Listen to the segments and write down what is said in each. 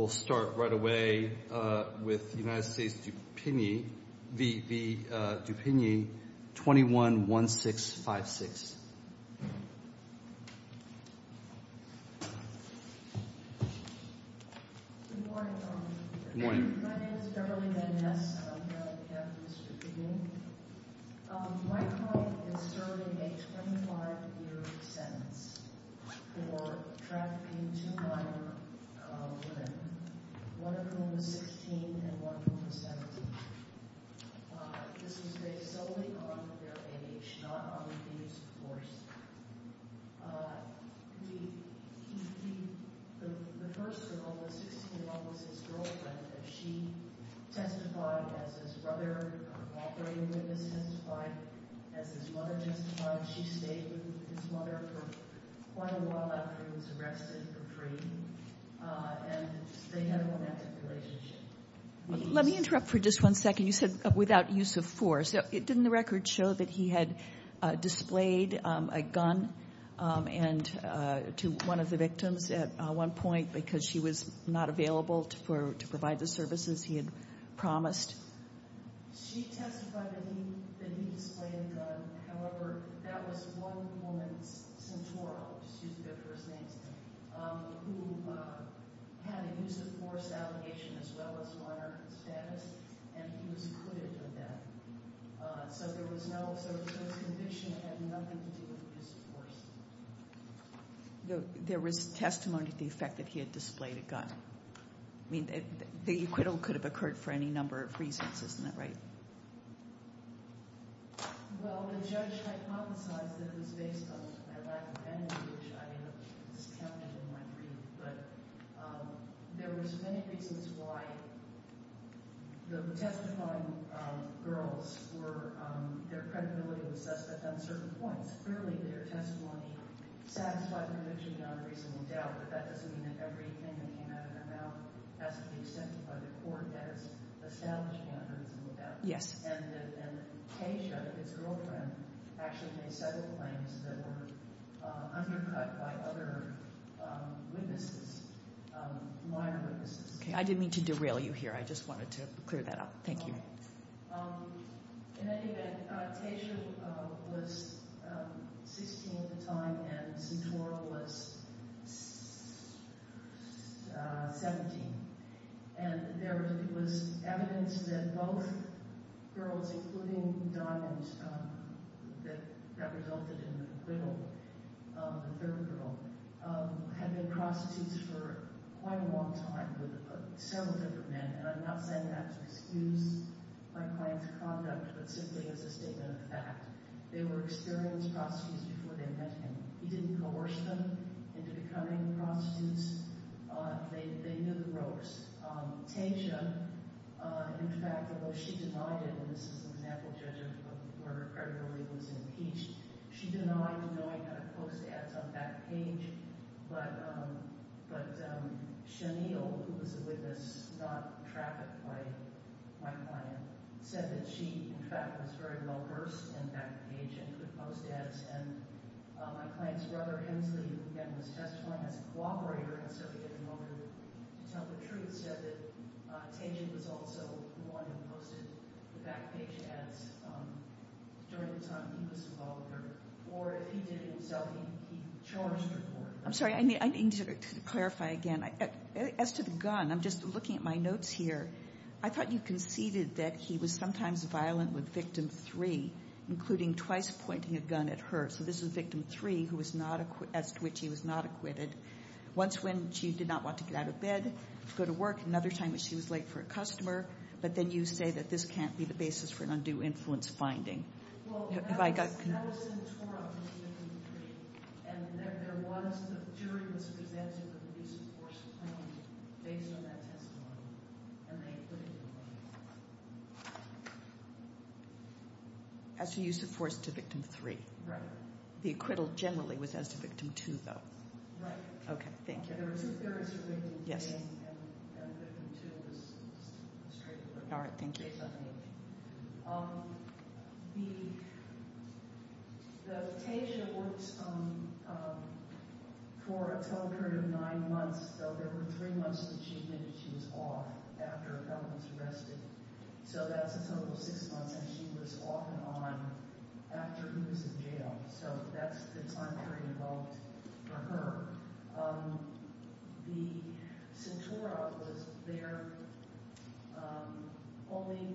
We'll start right away with the United States v. Dupigny, 21-1656. Good morning. My name is Beverly Van Ness and I'm here on behalf of Mr. Dupigny. My client is serving a 25-year sentence for trafficking two minor women, one of whom was 16 and one of whom was 17. This was based solely on their age, not on the abuse of force. The first girl was 16 and one was his girlfriend. She testified as his brother, an operating witness testified, as his mother testified. She stayed with his mother for quite a while after he was arrested for free. And they had a romantic relationship. Let me interrupt for just one second. You said without use of force. Didn't the record show that he had displayed a gun to one of the victims at one point because she was not available to provide the services he had promised? She testified that he displayed a gun. However, that was one woman, Centoro, who had an abuse of force allegation as well as minor status, and he was acquitted of that. So his conviction had nothing to do with abuse of force. There was testimony to the effect that he had displayed a gun. I mean, the acquittal could have occurred for any number of reasons, isn't that right? Well, the judge hypothesized that it was based on a lack of evidence, which I discounted in my brief. But there was many reasons why the testifying girls were – their credibility was assessed at uncertain points. Clearly, their testimony satisfied the conviction on reasonable doubt, but that doesn't mean that everything that came out of her mouth has to be accepted by the court. That is establishing on reasonable doubt. And Teja, his girlfriend, actually made several claims that were undercut by other witnesses, minor witnesses. I didn't mean to derail you here. I just wanted to clear that up. Thank you. In any event, Teja was 16 at the time and Centoro was 17. And there was evidence that both girls, including Diamond, that resulted in the acquittal of the third girl, had been prostitutes for quite a long time with several different men. And I'm not saying that to excuse my client's conduct, but simply as a statement of fact. They were experienced prostitutes before they met him. He didn't coerce them into becoming prostitutes. They knew the ropes. Teja, in fact, although she denied it – and this is an example, Judge, of where her credibility was impeached – she denied knowing how to post ads on Backpage. But Shanil, who was a witness, not trapped by my client, said that she, in fact, was very well versed in Backpage and could post ads. And my client's brother, Hensley, who again was testifying as a cooperator instead of getting over to tell the truth, said that Teja was also the one who posted the Backpage ads during the time he was involved with her. Or if he did it himself, he charged her for it. I'm sorry. I need to clarify again. As to the gun, I'm just looking at my notes here. I thought you conceded that he was sometimes violent with Victim 3, including twice pointing a gun at her. So this was Victim 3, as to which he was not acquitted. Once when she did not want to get out of bed to go to work. Another time when she was late for a customer. But then you say that this can't be the basis for an undue influence finding. Well, that was in the torum for Victim 3. And there was – the jury was presented with a use of force claim based on that testimony. And they acquitted him. As to use of force to Victim 3. Right. The acquittal generally was as to Victim 2, though. Right. Okay. Thank you. There are two theories relating to this. Yes. And Victim 2 was straight forward. All right. Thank you. The case that works for a total period of nine months. So there were three months that she admitted she was off after a felon was arrested. So that's a total of six months. And she was off and on after he was in jail. So that's the time period involved for her. The – Centora was there only –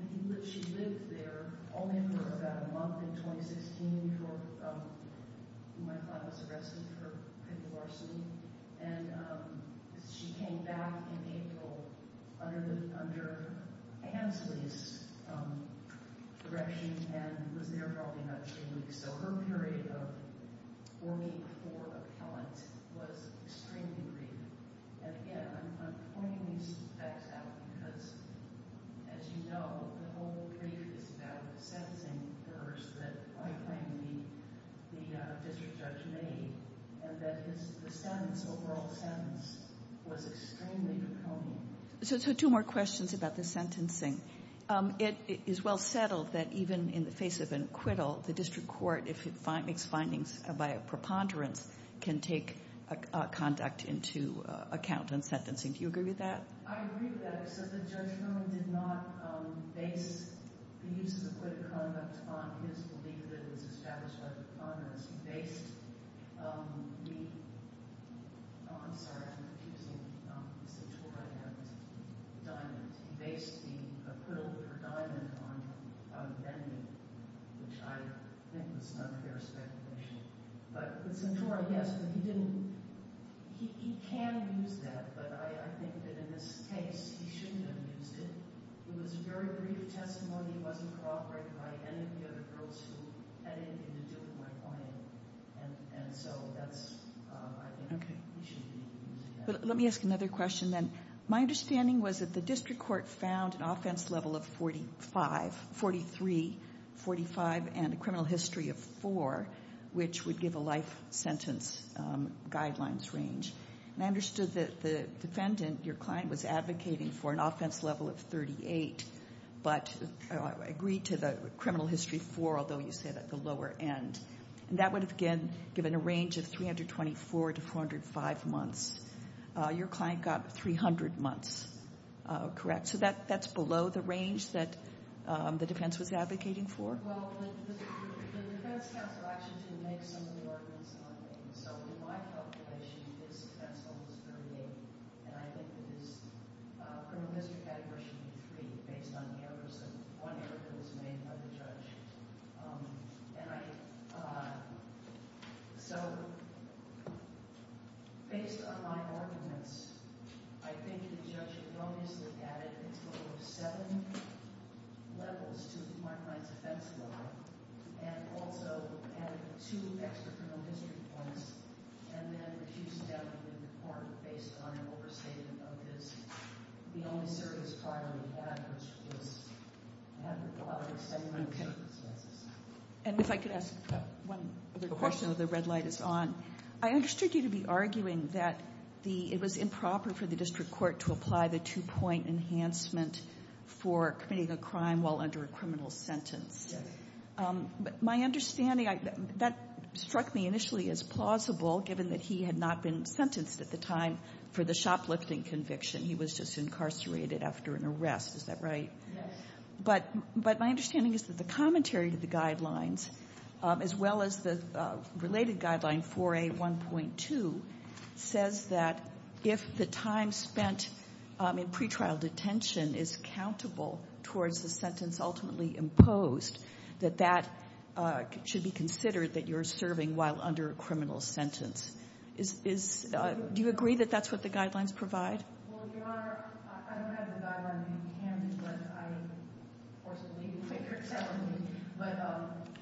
she lived there only for about a month in 2016 before my father was arrested for petty larceny. And she came back in April under Hansley's direction and was there probably another three weeks. So her period of working for a felon was extremely brief. And, again, I'm pointing these facts out because, as you know, the whole brief is about the sentencing first that I claim the district judge made and that his – the sentence, overall sentence, was extremely draconian. So two more questions about the sentencing. It is well settled that even in the face of an acquittal, the district court, if it makes findings by a preponderance, can take conduct into account in sentencing. Do you agree with that? I agree with that. All right. So the judgment did not base the use of acquitted conduct on his belief that it was established by the preponderance. He based the – oh, I'm sorry. I'm confusing the Centora and the diamond. He based the acquittal for diamond on vending, which I think was not a fair speculation. But the Centora, yes, but he didn't – he can use that. But I think that in this case, he shouldn't have used it. It was a very brief testimony. It wasn't corroborated by any of the other girls who had anything to do with my point. And so that's – I think he shouldn't be using that. Let me ask another question then. My understanding was that the district court found an offense level of 45, 43, 45, and a criminal history of four, which would give a life sentence guidelines range. And I understood that the defendant, your client, was advocating for an offense level of 38, but agreed to the criminal history four, although you said at the lower end. And that would have, again, given a range of 324 to 405 months. Your client got 300 months, correct? So that's below the range that the defense was advocating for? Well, the defense counsel actually did make some of the ordinance on that. So in my calculation, his offense level was 38, and I think that his criminal history category should be three based on errors and one error that was made by the judge. And I – so based on my arguments, I think the judge had obviously added a total of seven levels to my client's offense level and also added two extra criminal history points and then refused that report based on an overstatement of his – the only service prior to that, which was having a lot of extenuating circumstances. And if I could ask one other question while the red light is on. I understood you to be arguing that it was improper for the district court to apply the two-point enhancement for committing a crime while under a criminal sentence. Yes. My understanding – that struck me initially as plausible, given that he had not been sentenced at the time for the shoplifting conviction. He was just incarcerated after an arrest. Is that right? Yes. But my understanding is that the commentary to the guidelines, as well as the related guideline 4A1.2, says that if the time spent in pre-trial detention is countable towards the sentence ultimately imposed, that that should be considered that you're serving while under a criminal sentence. Is – do you agree that that's what the guidelines provide? Well, Your Honor, I don't have the guideline. You can, but I, of course, believe you when you're telling me. But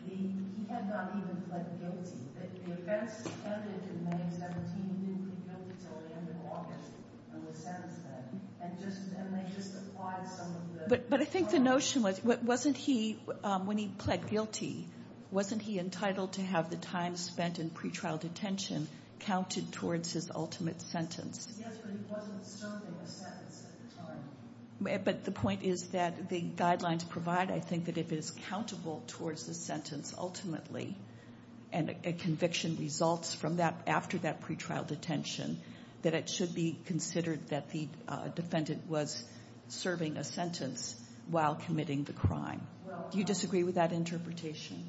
he had not even pled guilty. The offense ended in May of 2017. He didn't plead guilty until the end of August, and was sentenced then. And they just applied some of the – But I think the notion was, wasn't he – when he pled guilty, wasn't he entitled to have the time spent in pre-trial detention counted towards his ultimate sentence? Yes, but he wasn't serving a sentence at the time. But the point is that the guidelines provide, I think, that if it is countable towards the sentence ultimately and a conviction results from that after that pre-trial detention, that it should be considered that the defendant was serving a sentence while committing the crime. Do you disagree with that interpretation?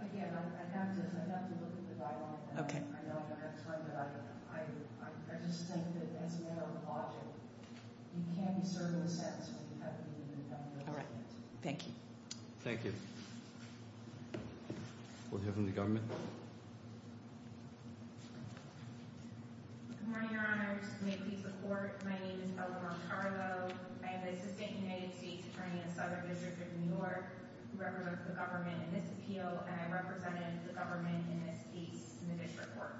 Again, I have to look at the guidelines. I know that that's one, but I just think that as a matter of logic, you can't be serving a sentence when you haven't even done the argument. All right. Thank you. Thank you. We'll hear from the government. Good morning, Your Honors. May it please the Court. My name is Eleanor Carlo. I am the Assistant United States Attorney in the Southern District of New York who represents the government in this appeal, and I represented the government in this case in the district court.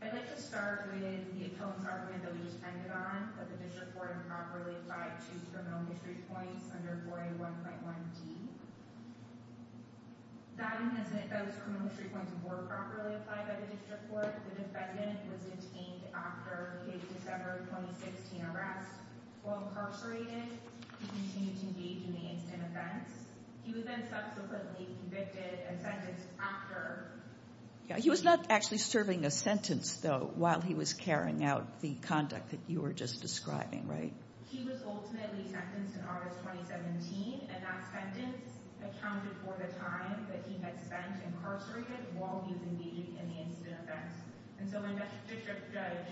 I'd like to start with the appeals argument that we just ended on, that the district court improperly applied two criminal history points under 4A1.1D. That and those criminal history points were properly applied by the district court. The defendant was detained after his December 2016 arrest. While incarcerated, he continued to engage in the incident offense. He was then subsequently convicted and sentenced after. He was not actually serving a sentence, though, while he was carrying out the conduct that you were just describing, right? He was ultimately sentenced in August 2017, and that sentence accounted for the time that he had spent incarcerated while he was engaging in the incident offense. And so when District Judge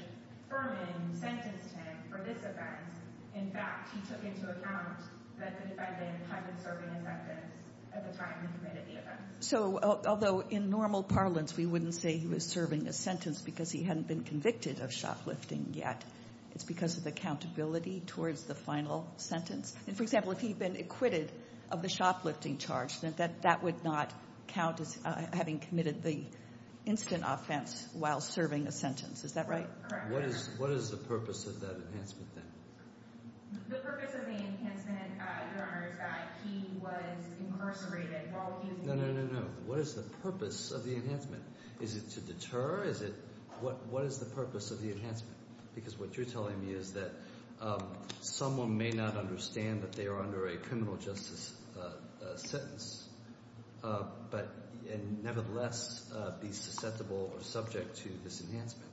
Furman sentenced him for this offense, in fact, he took into account that the defendant hadn't served a sentence at the time he committed the offense. So, although in normal parlance we wouldn't say he was serving a sentence because he hadn't been convicted of shoplifting yet, it's because of accountability towards the final sentence. And, for example, if he had been acquitted of the shoplifting charge, then that would not count as having committed the incident offense while serving a sentence. Is that right? Correct. What is the purpose of that enhancement then? The purpose of the enhancement, Your Honor, is that he was incarcerated while he was— No, no, no, no. What is the purpose of the enhancement? Is it to deter? Is it—what is the purpose of the enhancement? Because what you're telling me is that someone may not understand that they are under a criminal justice sentence, but nevertheless be susceptible or subject to this enhancement.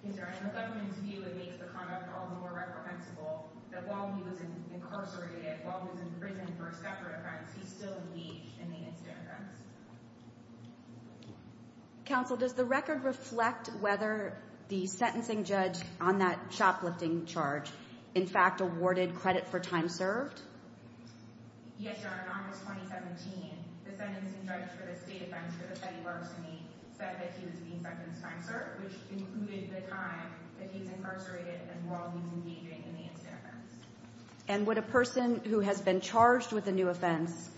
In the government's view, it makes the conduct all the more reprehensible that while he was incarcerated, while he was in prison for a separate offense, he still engaged in the incident offense. Counsel, does the record reflect whether the sentencing judge on that shoplifting charge in fact awarded credit for time served? Yes, Your Honor. In August 2017, the sentencing judge for the state offense for the petty larceny said that he was being sentenced time served, which included the time that he was incarcerated and while he was engaging in the incident offense. And would a person who has been charged with a new offense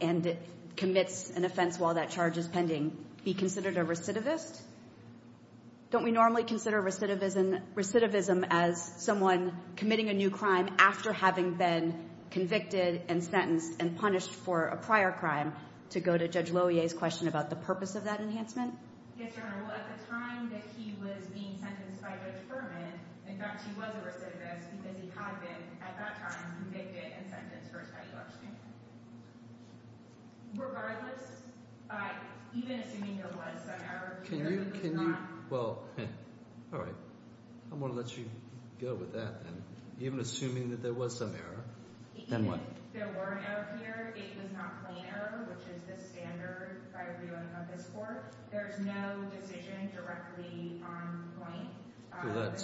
and commits an offense while that charge is pending be considered a recidivist? Don't we normally consider recidivism as someone committing a new crime after having been convicted and sentenced and punished for a prior crime? To go to Judge Lohier's question about the purpose of that enhancement? Yes, Your Honor. Well, at the time that he was being sentenced by Judge Berman, in fact, he was a recidivist because he had been, at that time, convicted and sentenced for a petty larceny. Regardless, even assuming there was some error, even if it was not. Well, all right. I'm going to let you go with that then. Even assuming that there was some error, then what? Even if there were an error here, it was not plain error, which is the standard by viewing of this court. There's no decision directly on point.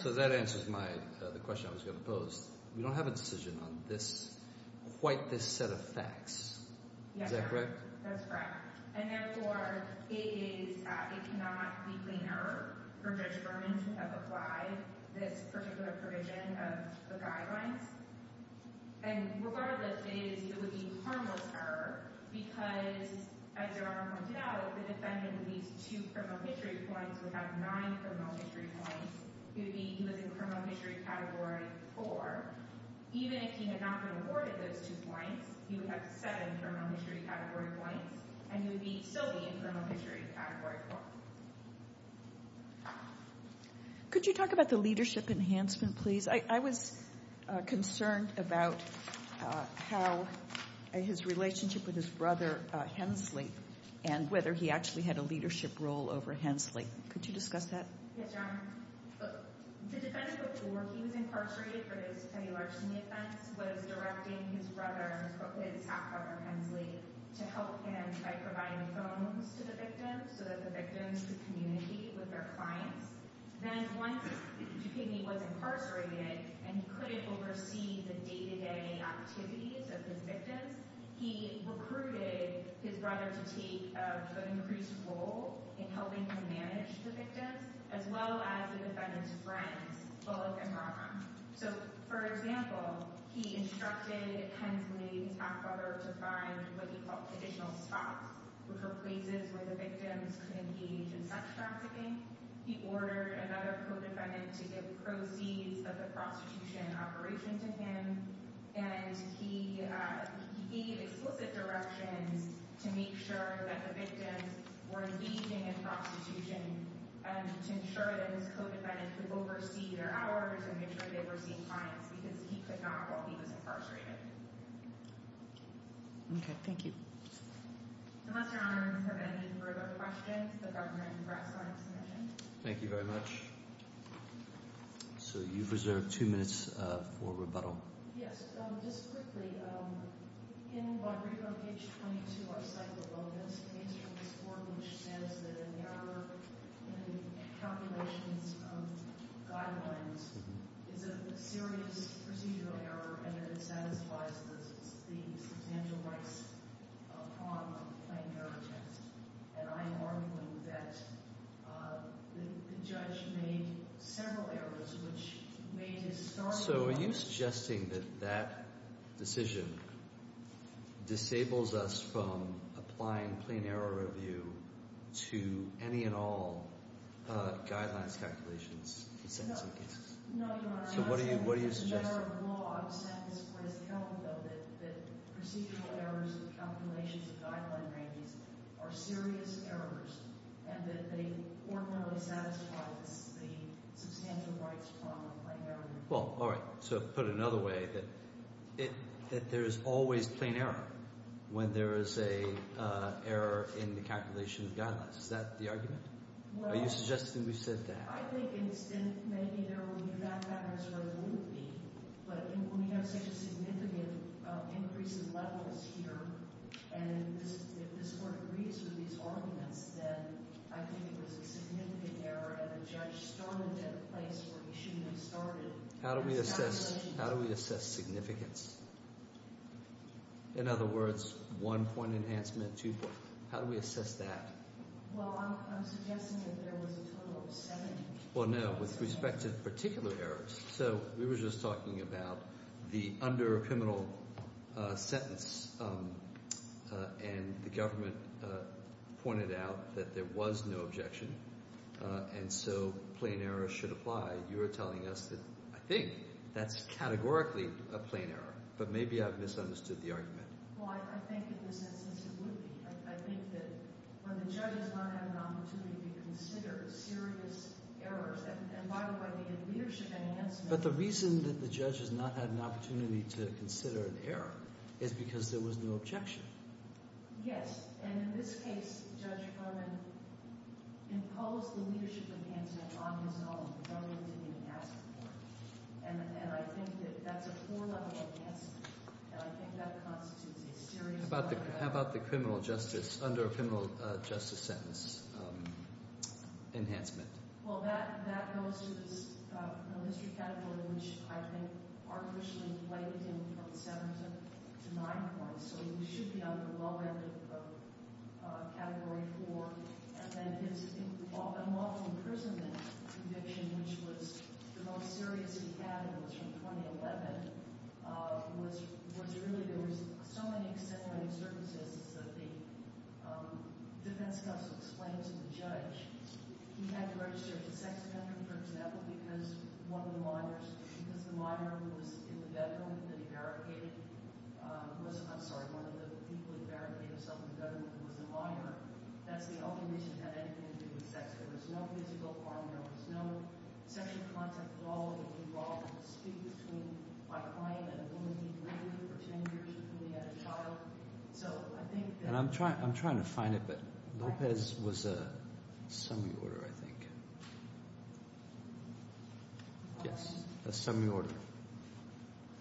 So that answers the question I was going to pose. We don't have a decision on quite this set of facts. Is that correct? That's correct. And therefore, it cannot be plain error for Judge Berman to have applied this particular provision of the guidelines. And regardless, it would be harmless error because, as Your Honor pointed out, the defendant with these two criminal history points would have nine criminal history points. He would be in criminal history category four. Even if he had not been awarded those two points, he would have seven criminal history category points, and he would still be in criminal history category four. Could you talk about the leadership enhancement, please? I was concerned about how his relationship with his brother, Hensley, and whether he actually had a leadership role over Hensley. Could you discuss that? Yes, Your Honor. The defendant, before he was incarcerated for this felony larceny offense, was directing his brother, his half-brother, Hensley, to help him by providing phones to the victim so that the victim could communicate with their clients. Then once Duquigny was incarcerated and he couldn't oversee the day-to-day activities of his victims, he recruited his brother to take an increased role in helping him manage the victims, as well as the defendant's friends, Bullock and Rockham. For example, he instructed Hensley and his half-brother to find what he called traditional spots, which are places where the victims could engage in sex trafficking. He ordered another co-defendant to give proceeds of the prostitution operation to him, and he gave explicit directions to make sure that the victims were engaging in prostitution to ensure that his co-defendant could oversee their hours and make sure they were seeing clients, because he could not while he was incarcerated. Okay. Thank you. Unless Your Honor has any further questions, the government rests on its mission. Thank you very much. So you've reserved two minutes for rebuttal. Yes, just quickly. In Rodriguez page 22, our cycle opens, and it's from this board, which says that an error in the calculations of guidelines is a serious procedural error, and that it satisfies the substantial rights upon a plain error test. And I am arguing that the judge made several errors, which made his starting point— disables us from applying plain error review to any and all guidelines calculations in sentencing cases. No, Your Honor. So what are you suggesting? It's a matter of law. I've sent this request to Helen, though, that procedural errors of calculations of guideline ranges are serious errors and that they ordinarily satisfy the substantial rights upon a plain error review. Well, all right. So put another way, that there is always plain error when there is an error in the calculation of guidelines. Is that the argument? Well— Are you suggesting we said that? I think it's—and maybe there will be back-and-forth with me, but when you have such a significant increase in levels here, and if this court agrees with these arguments, then I think it was a significant error, and the judge started at a place where he shouldn't have started. How do we assess significance? In other words, one point enhancement, two point—how do we assess that? Well, I'm suggesting that there was a total of seven. Well, no, with respect to particular errors. So we were just talking about the under-criminal sentence, and the government pointed out that there was no objection, and so plain error should apply. You are telling us that I think that's categorically a plain error, but maybe I've misunderstood the argument. Well, I think in this instance it would be. I think that when the judge has not had an opportunity to consider serious errors— and by the way, the leadership enhancement— But the reason that the judge has not had an opportunity to consider an error is because there was no objection. Yes, and in this case, Judge Harmon imposed the leadership enhancement on his own. The government didn't even ask for it. And I think that that's a four-level enhancement, and I think that constitutes a serious— How about the criminal justice, under-criminal justice sentence enhancement? Well, that goes to this criminal history category, which I think artificially blames him for the seven to nine points. So he should be under the low end of category four. And then his unlawful imprisonment conviction, which was the most serious he had, and it was from 2011, was really—there were so many exceptional circumstances that the defense counsel explained to the judge. He had to register as a sex offender, for example, because one of the minors— because the minor who was in the bedroom that he barricaded— I'm sorry, one of the people who barricaded himself in the bedroom was the minor. That's the only reason he had anything to do with sex. There was no physical harm. There was no sexual contact at all when he involved in a dispute between my client and a woman he'd been with for 10 years before he had a child. So I think that— And I'm trying to find it, but Lopez was a semi-order, I think. Yes, a semi-order.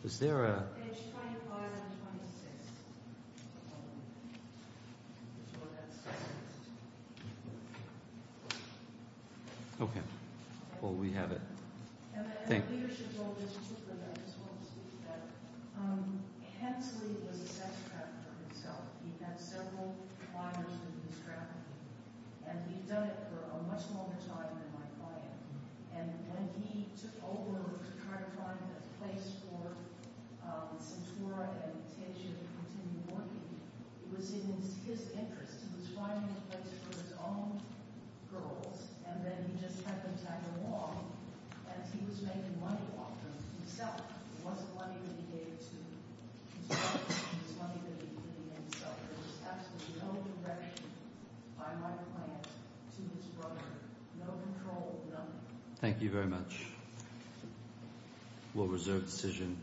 Is there a— Okay. Well, we have it. Thank you. And the leadership told us too, but I just want to speak to that. Hensley was a sex trafficker himself. He'd had several clients with his trafficking, and he'd done it for a much longer time than my client. And when he took over to try to find a place for Centura and Teja to continue working, it was in his interest. He was finding a place for his own girls, and then he just had them tag along as he was making money off them himself. It wasn't money that he gave to his wife. It was money that he gave to himself. There was absolutely no direction by my client to his brother. No control, nothing. Thank you very much. We'll reserve decision.